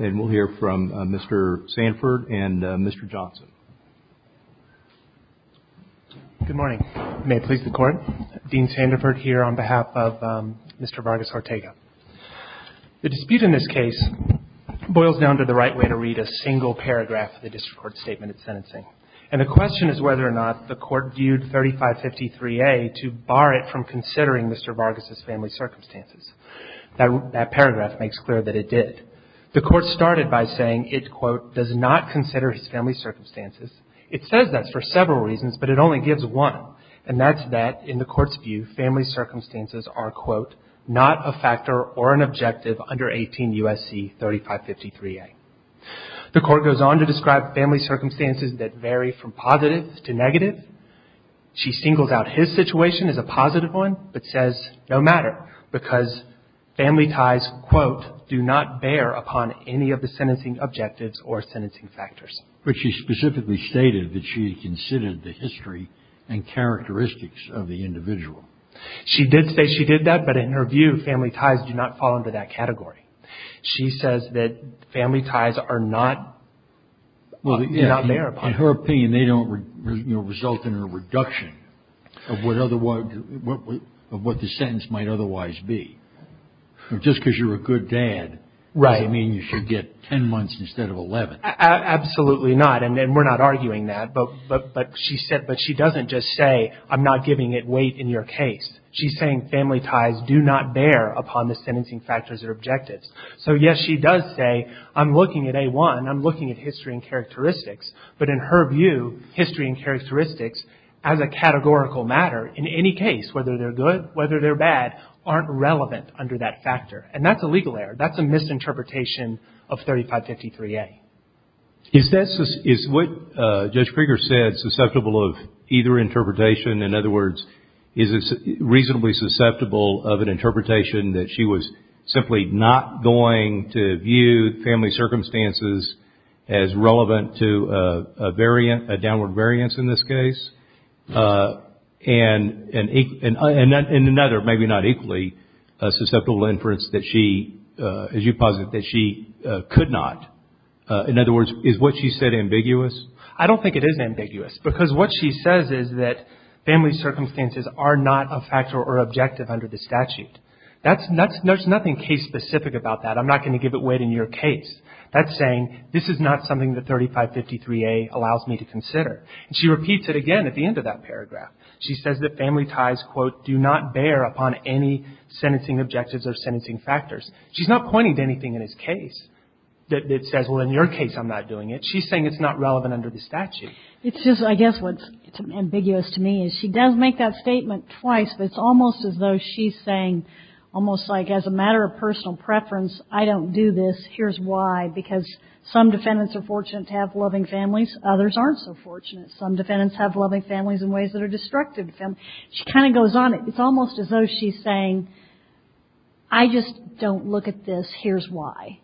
and we'll hear from Mr. Sandford and Mr. Johnson. Good morning. May it please the Court. Dean Sandford here on behalf of Mr. Vargas-Ortega. The dispute in this case boils down to the right way to read a single paragraph of the District Court's Statement of Sentencing. And the question is whether or not the Court viewed 3553A to bar it from considering Mr. Vargas' family circumstances. That paragraph makes clear that it did. The Court started by saying it, quote, does not consider his family circumstances. It says that for several reasons, but it only gives one. And that's that, in the Court's view, family circumstances are, quote, not a factor or an objective under 18 U.S.C. 3553A. The Court goes on to describe family circumstances that vary from positive to negative. She singles out his situation as a positive one, but says no matter, because family ties, quote, do not bear upon any of the sentencing objectives or sentencing factors. But she specifically stated that she considered the history and characteristics of the individual. She did say she did that, but in her view, family ties do not fall under that category. She says that family ties are not, do not bear upon. In her opinion, they don't result in a reduction of what the sentence might otherwise be. Just because you're a good dad doesn't mean you should get 10 months instead of 11. Absolutely not, and we're not arguing that, but she doesn't just say I'm not giving it weight in your case. She's saying family ties do not bear upon the sentencing factors or objectives. So, yes, she does say I'm looking at A1, I'm looking at history and characteristics, but in her view, history and characteristics as a categorical matter in any case, whether they're good, whether they're bad, aren't relevant under that factor, and that's a legal error. That's a misinterpretation of 3553A. Is what Judge Krieger said susceptible of either interpretation? In other words, is it reasonably susceptible of an interpretation that she was simply not going to view family circumstances as relevant to a variant, a downward variance in this case? And in another, maybe not equally susceptible inference, that she, as you posit, that she could not. In other words, is what she said ambiguous? I don't think it is ambiguous, because what she says is that family circumstances are not a factor or objective under the statute. There's nothing case specific about that. I'm not going to give it weight in your case. That's saying this is not something that 3553A allows me to consider. And she repeats it again at the end of that paragraph. She says that family ties, quote, do not bear upon any sentencing objectives or sentencing factors. She's not pointing to anything in his case that says, well, in your case, I'm not doing it. She's saying it's not relevant under the statute. It's just, I guess, what's ambiguous to me is she does make that statement twice, but it's almost as though she's saying, almost like as a matter of personal preference, I don't do this. Here's why. Because some defendants are fortunate to have loving families. Others aren't so fortunate. Some defendants have loving families in ways that are destructive. She kind of goes on. It's almost as though she's saying, I just don't look at this. Here's why.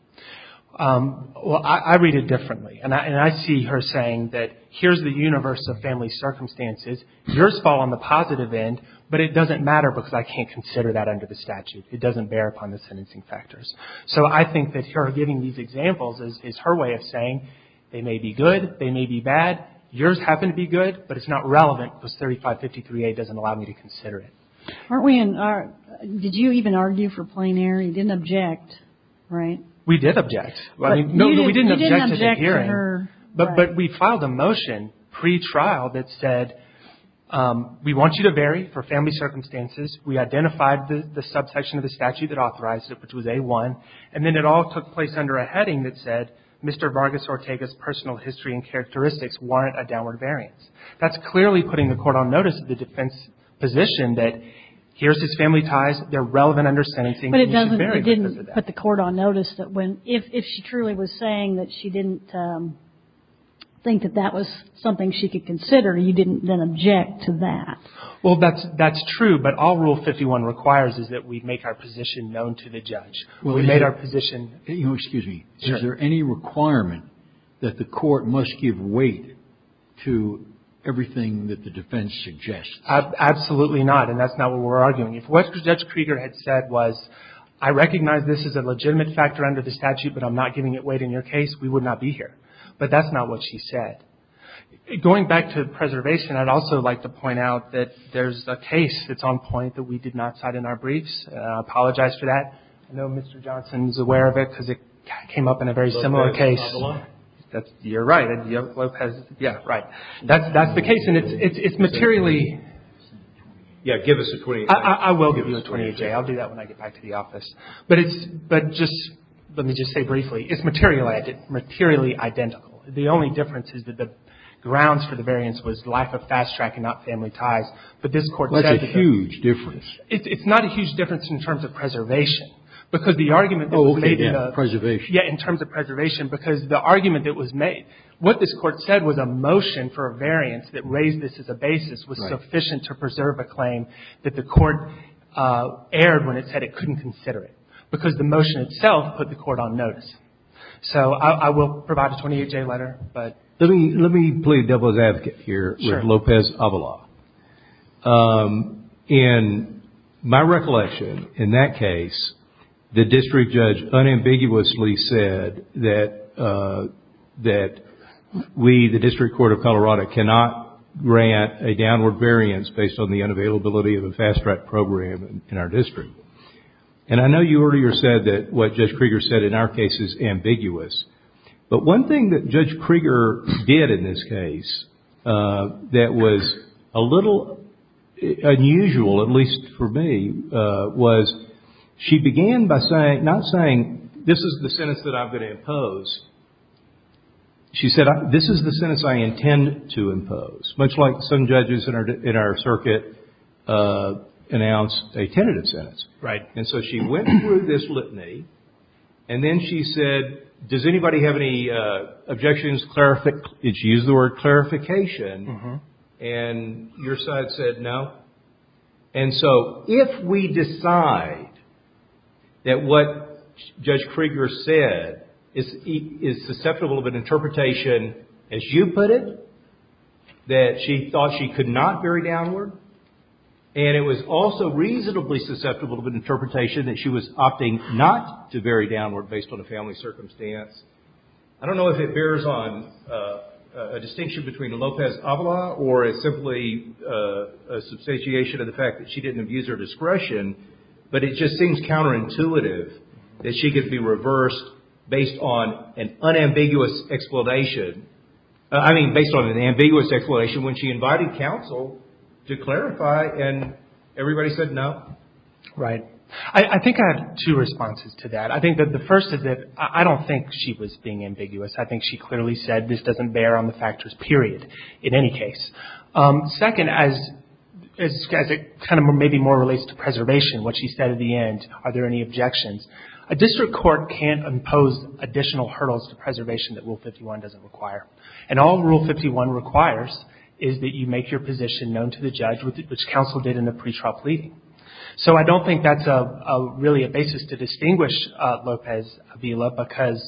Well, I read it differently. And I see her saying that here's the universe of family circumstances. Yours fall on the positive end, but it doesn't matter because I can't consider that under the statute. It doesn't bear upon the sentencing factors. So I think that her giving these examples is her way of saying they may be good, they may be bad. Yours happen to be good, but it's not relevant because 3553A doesn't allow me to consider it. Aren't we in our – did you even argue for plain air? You didn't object, right? We did object. No, we didn't object to the hearing. You didn't object to her. But we filed a motion pre-trial that said, we want you to vary for family circumstances. We identified the subsection of the statute that authorized it, which was A1. And then it all took place under a heading that said, Mr. Vargas Ortega's personal history and characteristics warrant a downward variance. That's clearly putting the court on notice of the defense position that here's his family ties. They're relevant under sentencing. But it doesn't – it didn't put the court on notice that when – if she truly was saying that she didn't think that that was something she could consider, you didn't then object to that. Well, that's true. But all Rule 51 requires is that we make our position known to the judge. We made our position – Excuse me. Is there any requirement that the court must give weight to everything that the defense suggests? Absolutely not. And that's not what we're arguing. If what Judge Krieger had said was, I recognize this is a legitimate factor under the statute, but I'm not giving it weight in your case, we would not be here. But that's not what she said. Going back to preservation, I'd also like to point out that there's a case that's on point that we did not cite in our briefs. I apologize for that. I know Mr. Johnson is aware of it because it came up in a very similar case. Lopez-Ottoline. You're right. Lopez – yeah, right. That's the case. And it's materially – Yeah, give us a 28-J. I will give you a 28-J. I'll do that when I get back to the office. But it's – but just – let me just say briefly, it's materially identical. The only difference is that the grounds for the variance was life of fast track and not family ties. But this court – That's a huge difference. It's not a huge difference in terms of preservation. Because the argument that was made in the – Preservation. Yeah, in terms of preservation. Because the argument that was made, what this court said was a motion for a variance that raised this as a basis was sufficient to preserve a claim that the court aired when it said it couldn't consider it. Because the motion itself put the court on notice. So I will provide a 28-J letter, but – Let me play devil's advocate here with Lopez-Ottoline. Sure. In my recollection, in that case, the district judge unambiguously said that we, the District Court of Colorado, cannot grant a downward variance based on the unavailability of a fast track program in our district. And I know you earlier said that what Judge Krieger said in our case is ambiguous. But one thing that Judge Krieger did in this case that was a little unusual, at least for me, was she began by not saying, this is the sentence that I'm going to impose. She said, this is the sentence I intend to impose. Much like some judges in our circuit announce a tentative sentence. Right. And so she went through this litany, and then she said, does anybody have any objections? Did she use the word clarification? And your side said no. And so if we decide that what Judge Krieger said is susceptible of an interpretation, as you put it, that she thought she could not vary downward, and it was also reasonably susceptible of an interpretation that she was opting not to vary downward based on a family circumstance, I don't know if it bears on a distinction between a Lopez-Avila or simply a substation of the fact that she didn't abuse her discretion, but it just seems counterintuitive that she could be reversed based on an unambiguous explanation. I mean, based on an ambiguous explanation when she invited counsel to clarify and everybody said no. Right. I think I have two responses to that. I think that the first is that I don't think she was being ambiguous. I think she clearly said this doesn't bear on the factors, period, in any case. Second, as it kind of maybe more relates to preservation, what she said at the end, are there any objections? A district court can't impose additional hurdles to preservation that Rule 51 doesn't require. And all Rule 51 requires is that you make your position known to the judge, which counsel did in the pre-trial plea. So I don't think that's really a basis to distinguish Lopez-Avila because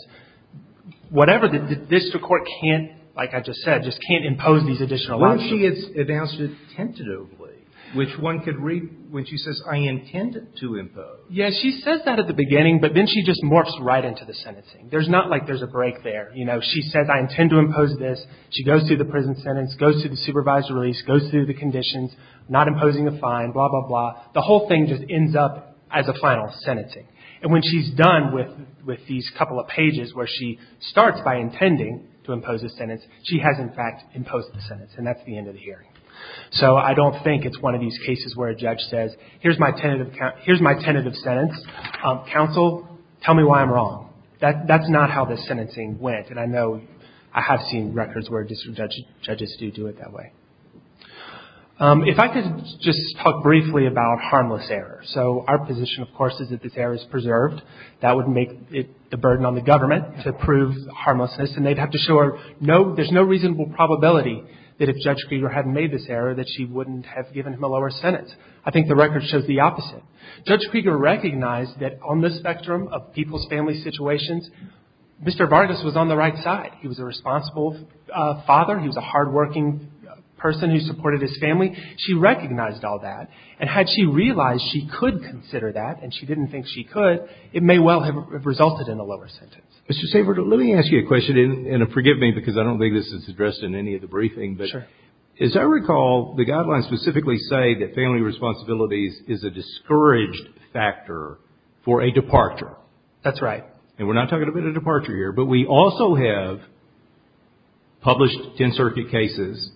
whatever the district court can't, like I just said, just can't impose these additional hurdles. But she has announced it tentatively, which one could read when she says, I intend to impose. Yes, she says that at the beginning, but then she just morphs right into the sentencing. There's not like there's a break there. You know, she says, I intend to impose this. She goes through the prison sentence, goes through the supervisory release, goes through the conditions, not imposing a fine, blah, blah, blah. The whole thing just ends up as a final sentencing. And when she's done with these couple of pages where she starts by intending to impose a sentence, she has, in fact, imposed the sentence. And that's the end of the hearing. So I don't think it's one of these cases where a judge says, here's my tentative sentence. Counsel, tell me why I'm wrong. That's not how the sentencing went. And I know I have seen records where district judges do do it that way. If I could just talk briefly about harmless errors. So our position, of course, is that this error is preserved. That would make it a burden on the government to prove harmlessness. And they'd have to show there's no reasonable probability that if Judge Krieger hadn't made this error that she wouldn't have given him a lower sentence. I think the record shows the opposite. Judge Krieger recognized that on the spectrum of people's family situations, Mr. Vargas was on the right side. He was a responsible father. He was a hardworking person who supported his family. She recognized all that. And had she realized she could consider that and she didn't think she could, it may well have resulted in a lower sentence. Mr. Sabre, let me ask you a question. And forgive me because I don't think this is addressed in any of the briefing. Sure. As I recall, the guidelines specifically say that family responsibilities is a discouraged factor for a departure. That's right. And we're not talking about a departure here. But we also have published Ten Circuit cases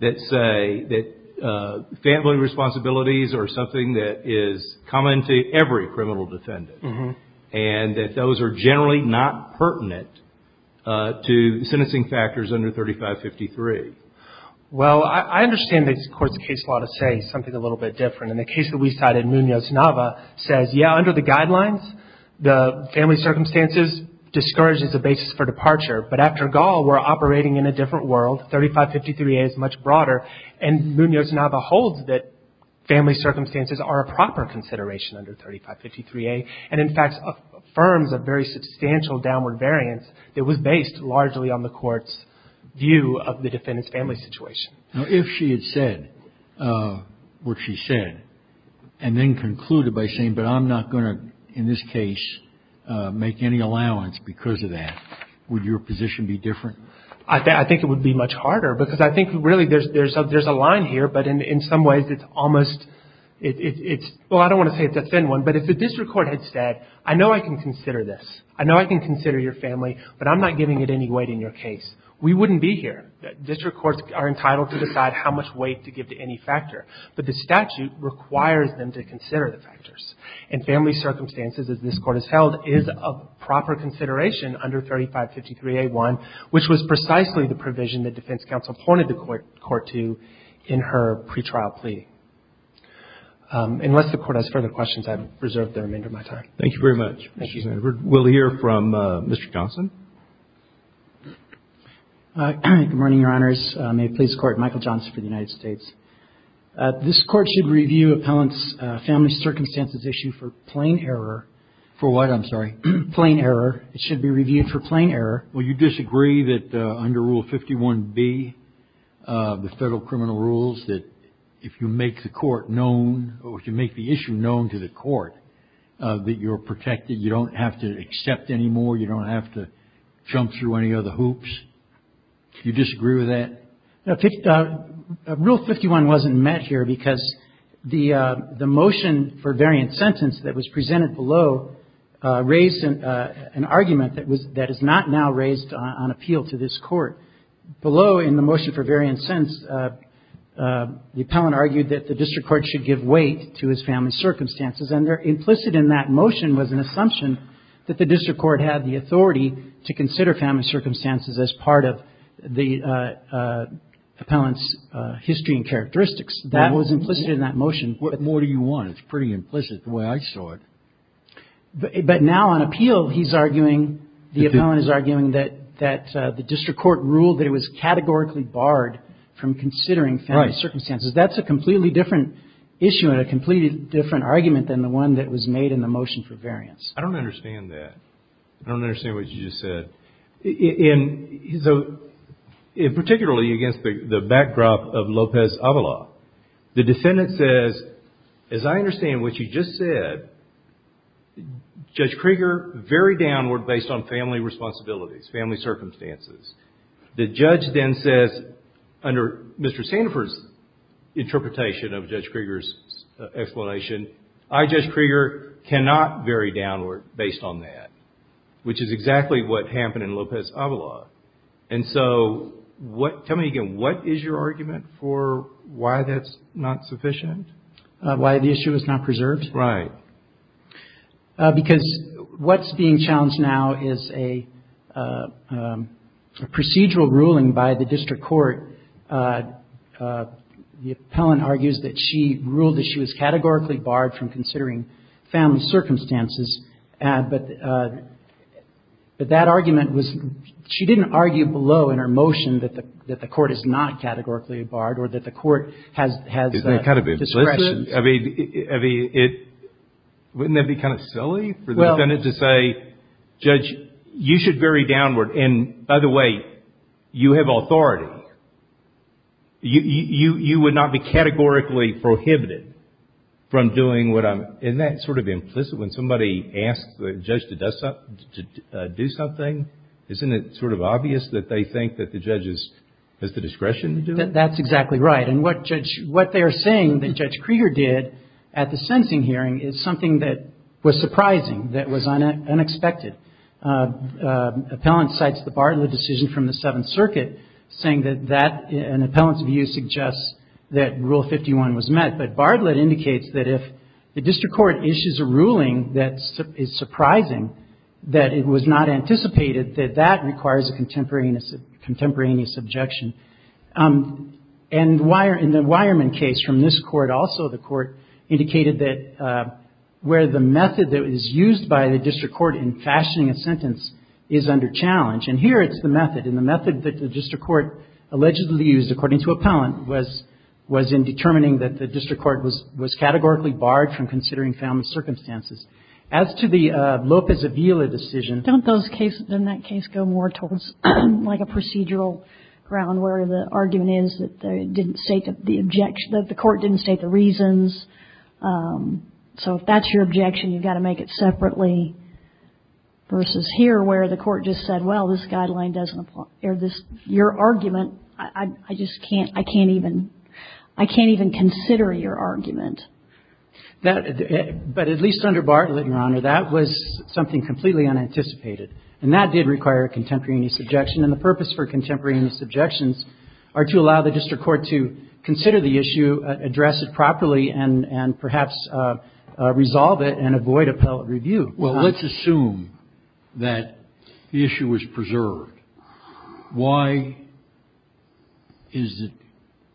that say that family responsibilities are something that is common to every criminal defendant. And that those are generally not pertinent to sentencing factors under 3553. Well, I understand the court's case law to say something a little bit different. And the case that we cited, Munoz-Nava, says, yeah, under the guidelines, the family circumstances discouraged is a basis for departure. But after Gall, we're operating in a different world. 3553A is much broader. And Munoz-Nava holds that family circumstances are a proper consideration under 3553A. And, in fact, affirms a very substantial downward variance that was based largely on the court's view of the defendant's family situation. Now, if she had said what she said and then concluded by saying, but I'm not going to, in this case, make any allowance because of that, would your position be different? I think it would be much harder because I think really there's a line here. But in some ways, it's almost, it's, well, I don't want to say it's a thin one. But if the district court had said, I know I can consider this. I know I can consider your family. But I'm not giving it any weight in your case. We wouldn't be here. District courts are entitled to decide how much weight to give to any factor. But the statute requires them to consider the factors. And family circumstances, as this court has held, is a proper consideration under 3553A1, which was precisely the provision that defense counsel pointed the court to in her pretrial plea. Unless the court has further questions, I've reserved the remainder of my time. Thank you very much. We'll hear from Mr. Johnson. Good morning, Your Honors. May it please the Court. Michael Johnson for the United States. This Court should review appellant's family circumstances issue for plain error. For what, I'm sorry? Plain error. It should be reviewed for plain error. Well, you disagree that under Rule 51B, the federal criminal rules, that if you make the court known or if you make the issue known to the court, that you're protected, you don't have to accept anymore, you don't have to jump through any other hoops? Do you disagree with that? Rule 51 wasn't met here because the motion for variant sentence that was presented below raised an argument that is not now raised on appeal to this Court. Below in the motion for variant sentence, the appellant argued that the district court should give weight to his family circumstances, and implicit in that motion was an assumption that the district court had the authority to consider family circumstances as part of the appellant's history and characteristics. That was implicit in that motion. What more do you want? It's pretty implicit the way I saw it. But now on appeal, he's arguing, the appellant is arguing that the district court ruled that it was categorically barred from considering family circumstances. That's a completely different issue and a completely different argument than the one that was made in the motion for variance. I don't understand that. I don't understand what you just said. Particularly against the backdrop of Lopez-Avala, the defendant says, as I understand what you just said, Judge Krieger, very downward based on family responsibilities, family circumstances. The judge then says, under Mr. Sandefur's interpretation of Judge Krieger's explanation, I, Judge Krieger, cannot vary downward based on that, which is exactly what happened in Lopez-Avala. And so tell me again, what is your argument for why that's not sufficient? Why the issue is not preserved. Right. Because what's being challenged now is a procedural ruling by the district court. The appellant argues that she ruled that she was categorically barred from considering family circumstances. But that argument was, she didn't argue below in her motion that the court is not categorically barred or that the court has discretion. Isn't that kind of implicit? I mean, wouldn't that be kind of silly for the defendant to say, Judge, you should vary downward. And by the way, you have authority. You would not be categorically prohibited from doing what I'm, isn't that sort of implicit when somebody asks the judge to do something? Isn't it sort of obvious that they think that the judge has the discretion to do it? That's exactly right. And what Judge, what they're saying that Judge Krieger did at the sentencing hearing is something that was surprising, that was unexpected. Appellant cites the Bartlett decision from the Seventh Circuit, saying that that, an appellant's view suggests that Rule 51 was met. But Bartlett indicates that if the district court issues a ruling that is surprising, that it was not anticipated, that that requires a contemporaneous objection. And in the Weyermann case from this Court also, the Court indicated that where the method that was used by the district court in fashioning a sentence is under challenge. And here it's the method. And the method that the district court allegedly used, according to Appellant, was in determining that the district court was categorically barred from considering family circumstances. As to the Lopez-Avila decision. Don't those cases in that case go more towards like a procedural ground where the argument is that it didn't state the objection, that the Court didn't state the reasons. So if that's your objection, you've got to make it separately, versus here where the Court just said, well, this guideline doesn't apply, or this, your argument, I just can't, I can't even, I can't even consider your argument. But at least under Bartlett, Your Honor, that was something completely unanticipated. And that did require a contemporaneous objection. And the purpose for contemporaneous objections are to allow the district court to consider the issue, address it properly, and perhaps resolve it and avoid appellate review. Well, let's assume that the issue was preserved. Why is it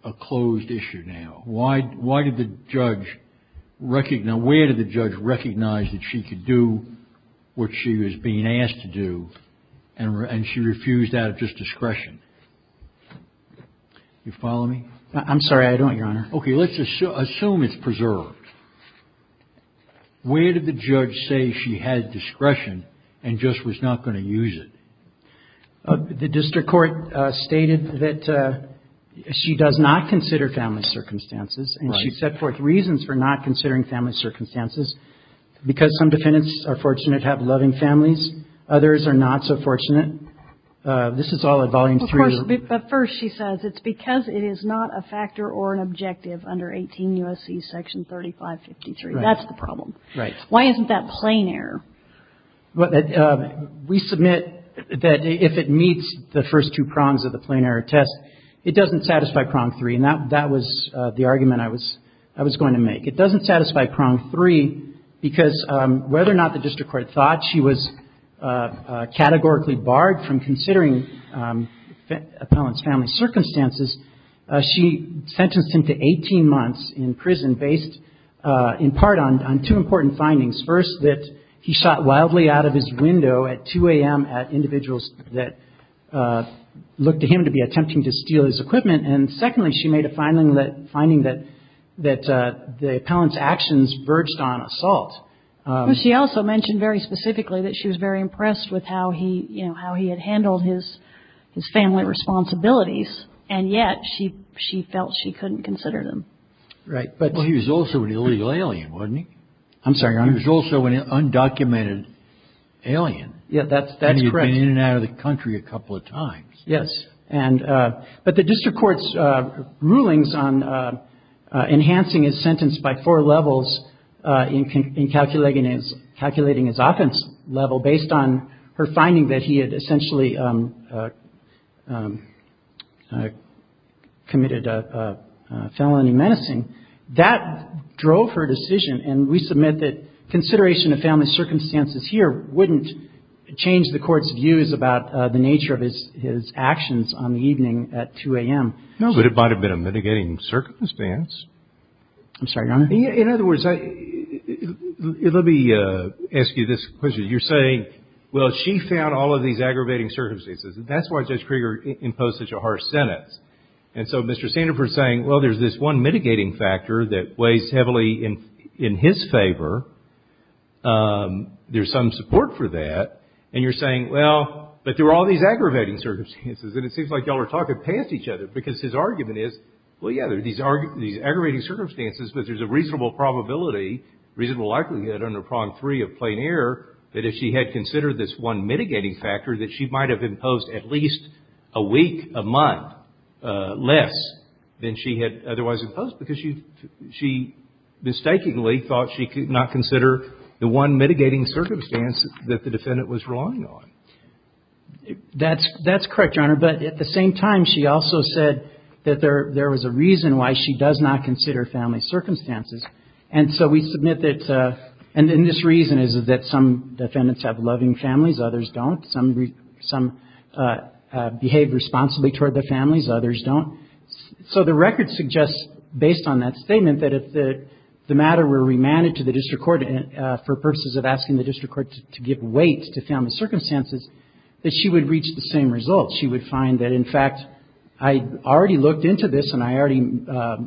a closed issue now? Why did the judge recognize, where did the judge recognize that she could do what she was being asked to do, and she refused out of just discretion? You follow me? I'm sorry, I don't, Your Honor. Okay, let's assume it's preserved. Where did the judge say she had discretion and just was not going to use it? The district court stated that she does not consider family circumstances. Right. And she set forth reasons for not considering family circumstances. Because some defendants are fortunate to have loving families. Others are not so fortunate. This is all at volume three. Of course, but first she says it's because it is not a factor or an objective under 18 U.S.C. section 3553. Right. That's the problem. Right. Why isn't that plain error? We submit that if it meets the first two prongs of the plain error test, it doesn't satisfy prong three, and that was the argument I was going to make. It doesn't satisfy prong three because whether or not the district court thought she was categorically barred from considering appellant's family circumstances, she sentenced him to 18 months in prison based in part on two important findings. First, that he shot wildly out of his window at 2 a.m. at individuals that looked to him to be attempting to steal his equipment. And secondly, she made a finding that the appellant's actions verged on assault. She also mentioned very specifically that she was very impressed with how he, you know, how he had handled his family responsibilities, and yet she felt she couldn't consider them. Right. But he was also an illegal alien, wasn't he? I'm sorry, Your Honor. He was also an undocumented alien. Yeah, that's correct. And he had been in and out of the country a couple of times. Yes. But the district court's rulings on enhancing his sentence by four levels in calculating his offense level based on her finding that he had essentially committed a felony menacing, that drove her decision. And we submit that consideration of family circumstances here wouldn't change the court's views about the nature of his actions on the evening at 2 a.m. But it might have been a mitigating circumstance. I'm sorry, Your Honor. In other words, let me ask you this question. You're saying, well, she found all of these aggravating circumstances. That's why Judge Krieger imposed such a harsh sentence. And so Mr. Sandefur's saying, well, there's this one mitigating factor that weighs heavily in his favor. There's some support for that. And you're saying, well, but there are all these aggravating circumstances. And it seems like y'all are talking past each other because his argument is, well, yeah, there are these aggravating circumstances, but there's a reasonable probability, reasonable likelihood under prong three of plain error, that if she had considered this one mitigating factor, that she might have imposed at least a week, a month less than she had otherwise imposed because she mistakenly thought she could not consider the one mitigating circumstance that the defendant was relying on. That's correct, Your Honor. But at the same time, she also said that there was a reason why she does not consider family circumstances. And so we submit that, and this reason is that some defendants have loving families. Others don't. Some behave responsibly toward their families. Others don't. So the record suggests, based on that statement, that if the matter were remanded to the district court for purposes of asking the district court to give weight to family circumstances, that she would reach the same results. She would find that, in fact, I already looked into this, and I already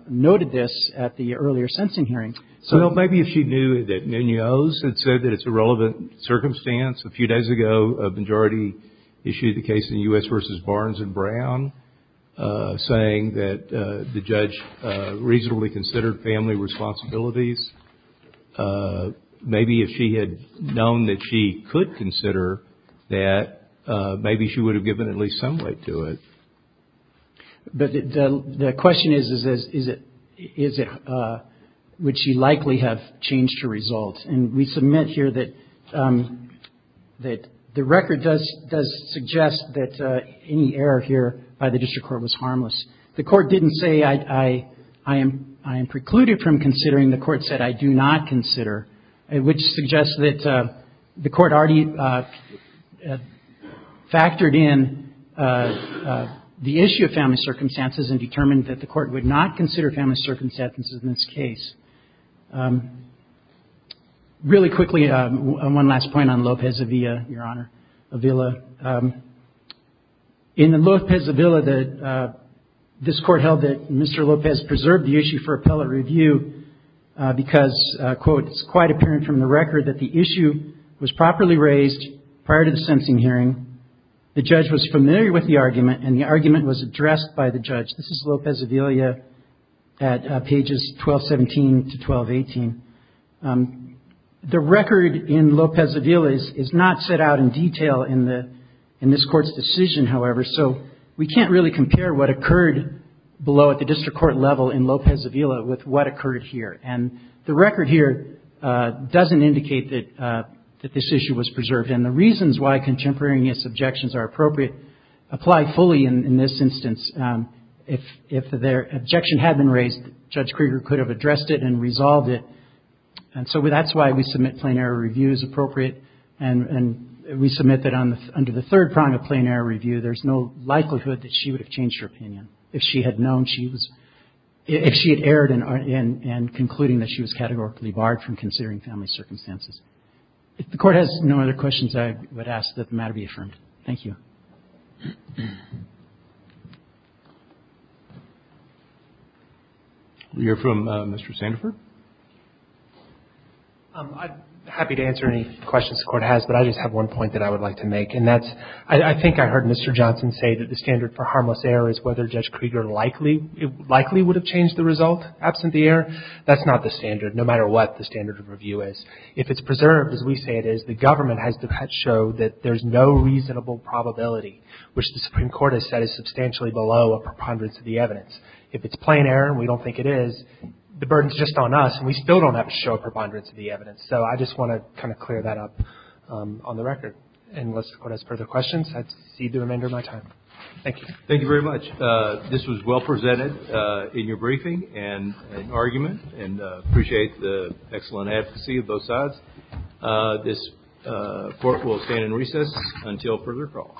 noted this at the earlier sentencing hearing. Well, maybe if she knew that Munoz had said that it's a relevant circumstance. A few days ago, a majority issued a case in U.S. v. Barnes and Brown saying that the judge reasonably considered family responsibilities. Maybe if she had known that she could consider that, maybe she would have given at least some weight to it. But the question is, is it – would she likely have changed her results? And we submit here that the record does suggest that any error here by the district court was harmless. The court didn't say, I am precluded from considering. The court said, I do not consider, which suggests that the court already factored in the issue of family circumstances and determined that the court would not consider family circumstances in this case. Really quickly, one last point on Lopez-Avilla, Your Honor, Avilla. In the Lopez-Avilla that this court held that Mr. Lopez preserved the issue for appellate review because, quote, it's quite apparent from the record that the issue was properly raised prior to the sentencing hearing. The judge was familiar with the argument, and the argument was addressed by the judge. This is Lopez-Avilla at pages 1217 to 1218. The record in Lopez-Avilla is not set out in detail in this court's decision, however, so we can't really compare what occurred below at the district court level in Lopez-Avilla with what occurred here. And the record here doesn't indicate that this issue was preserved. And the reasons why contemporaneous objections are appropriate apply fully in this instance. If their objection had been raised, Judge Krieger could have addressed it and resolved it. And so that's why we submit plain error review as appropriate, and we submit that under the third prong of plain error review there's no likelihood that she would have changed her opinion. If she had known she was, if she had erred in concluding that she was categorically barred from considering family circumstances. If the Court has no other questions, I would ask that the matter be affirmed. Thank you. You're from Mr. Sandifer. I'm happy to answer any questions the Court has, but I just have one point that I would like to make, and that's I think I heard Mr. Johnson say that the standard for harmless error is whether Judge Krieger likely, likely would have changed the result absent the error. That's not the standard, no matter what the standard of review is. If it's preserved, as we say it is, the government has to show that there's no reasonable probability, which the Supreme Court has said is substantially below a preponderance of the evidence. If it's plain error, and we don't think it is, the burden is just on us, and we still don't have to show a preponderance of the evidence. So I just want to kind of clear that up on the record. Unless the Court has further questions, I cede the remainder of my time. Thank you. Thank you very much. This was well presented in your briefing and argument, and I appreciate the excellent advocacy of both sides. This Court will stand in recess until further call.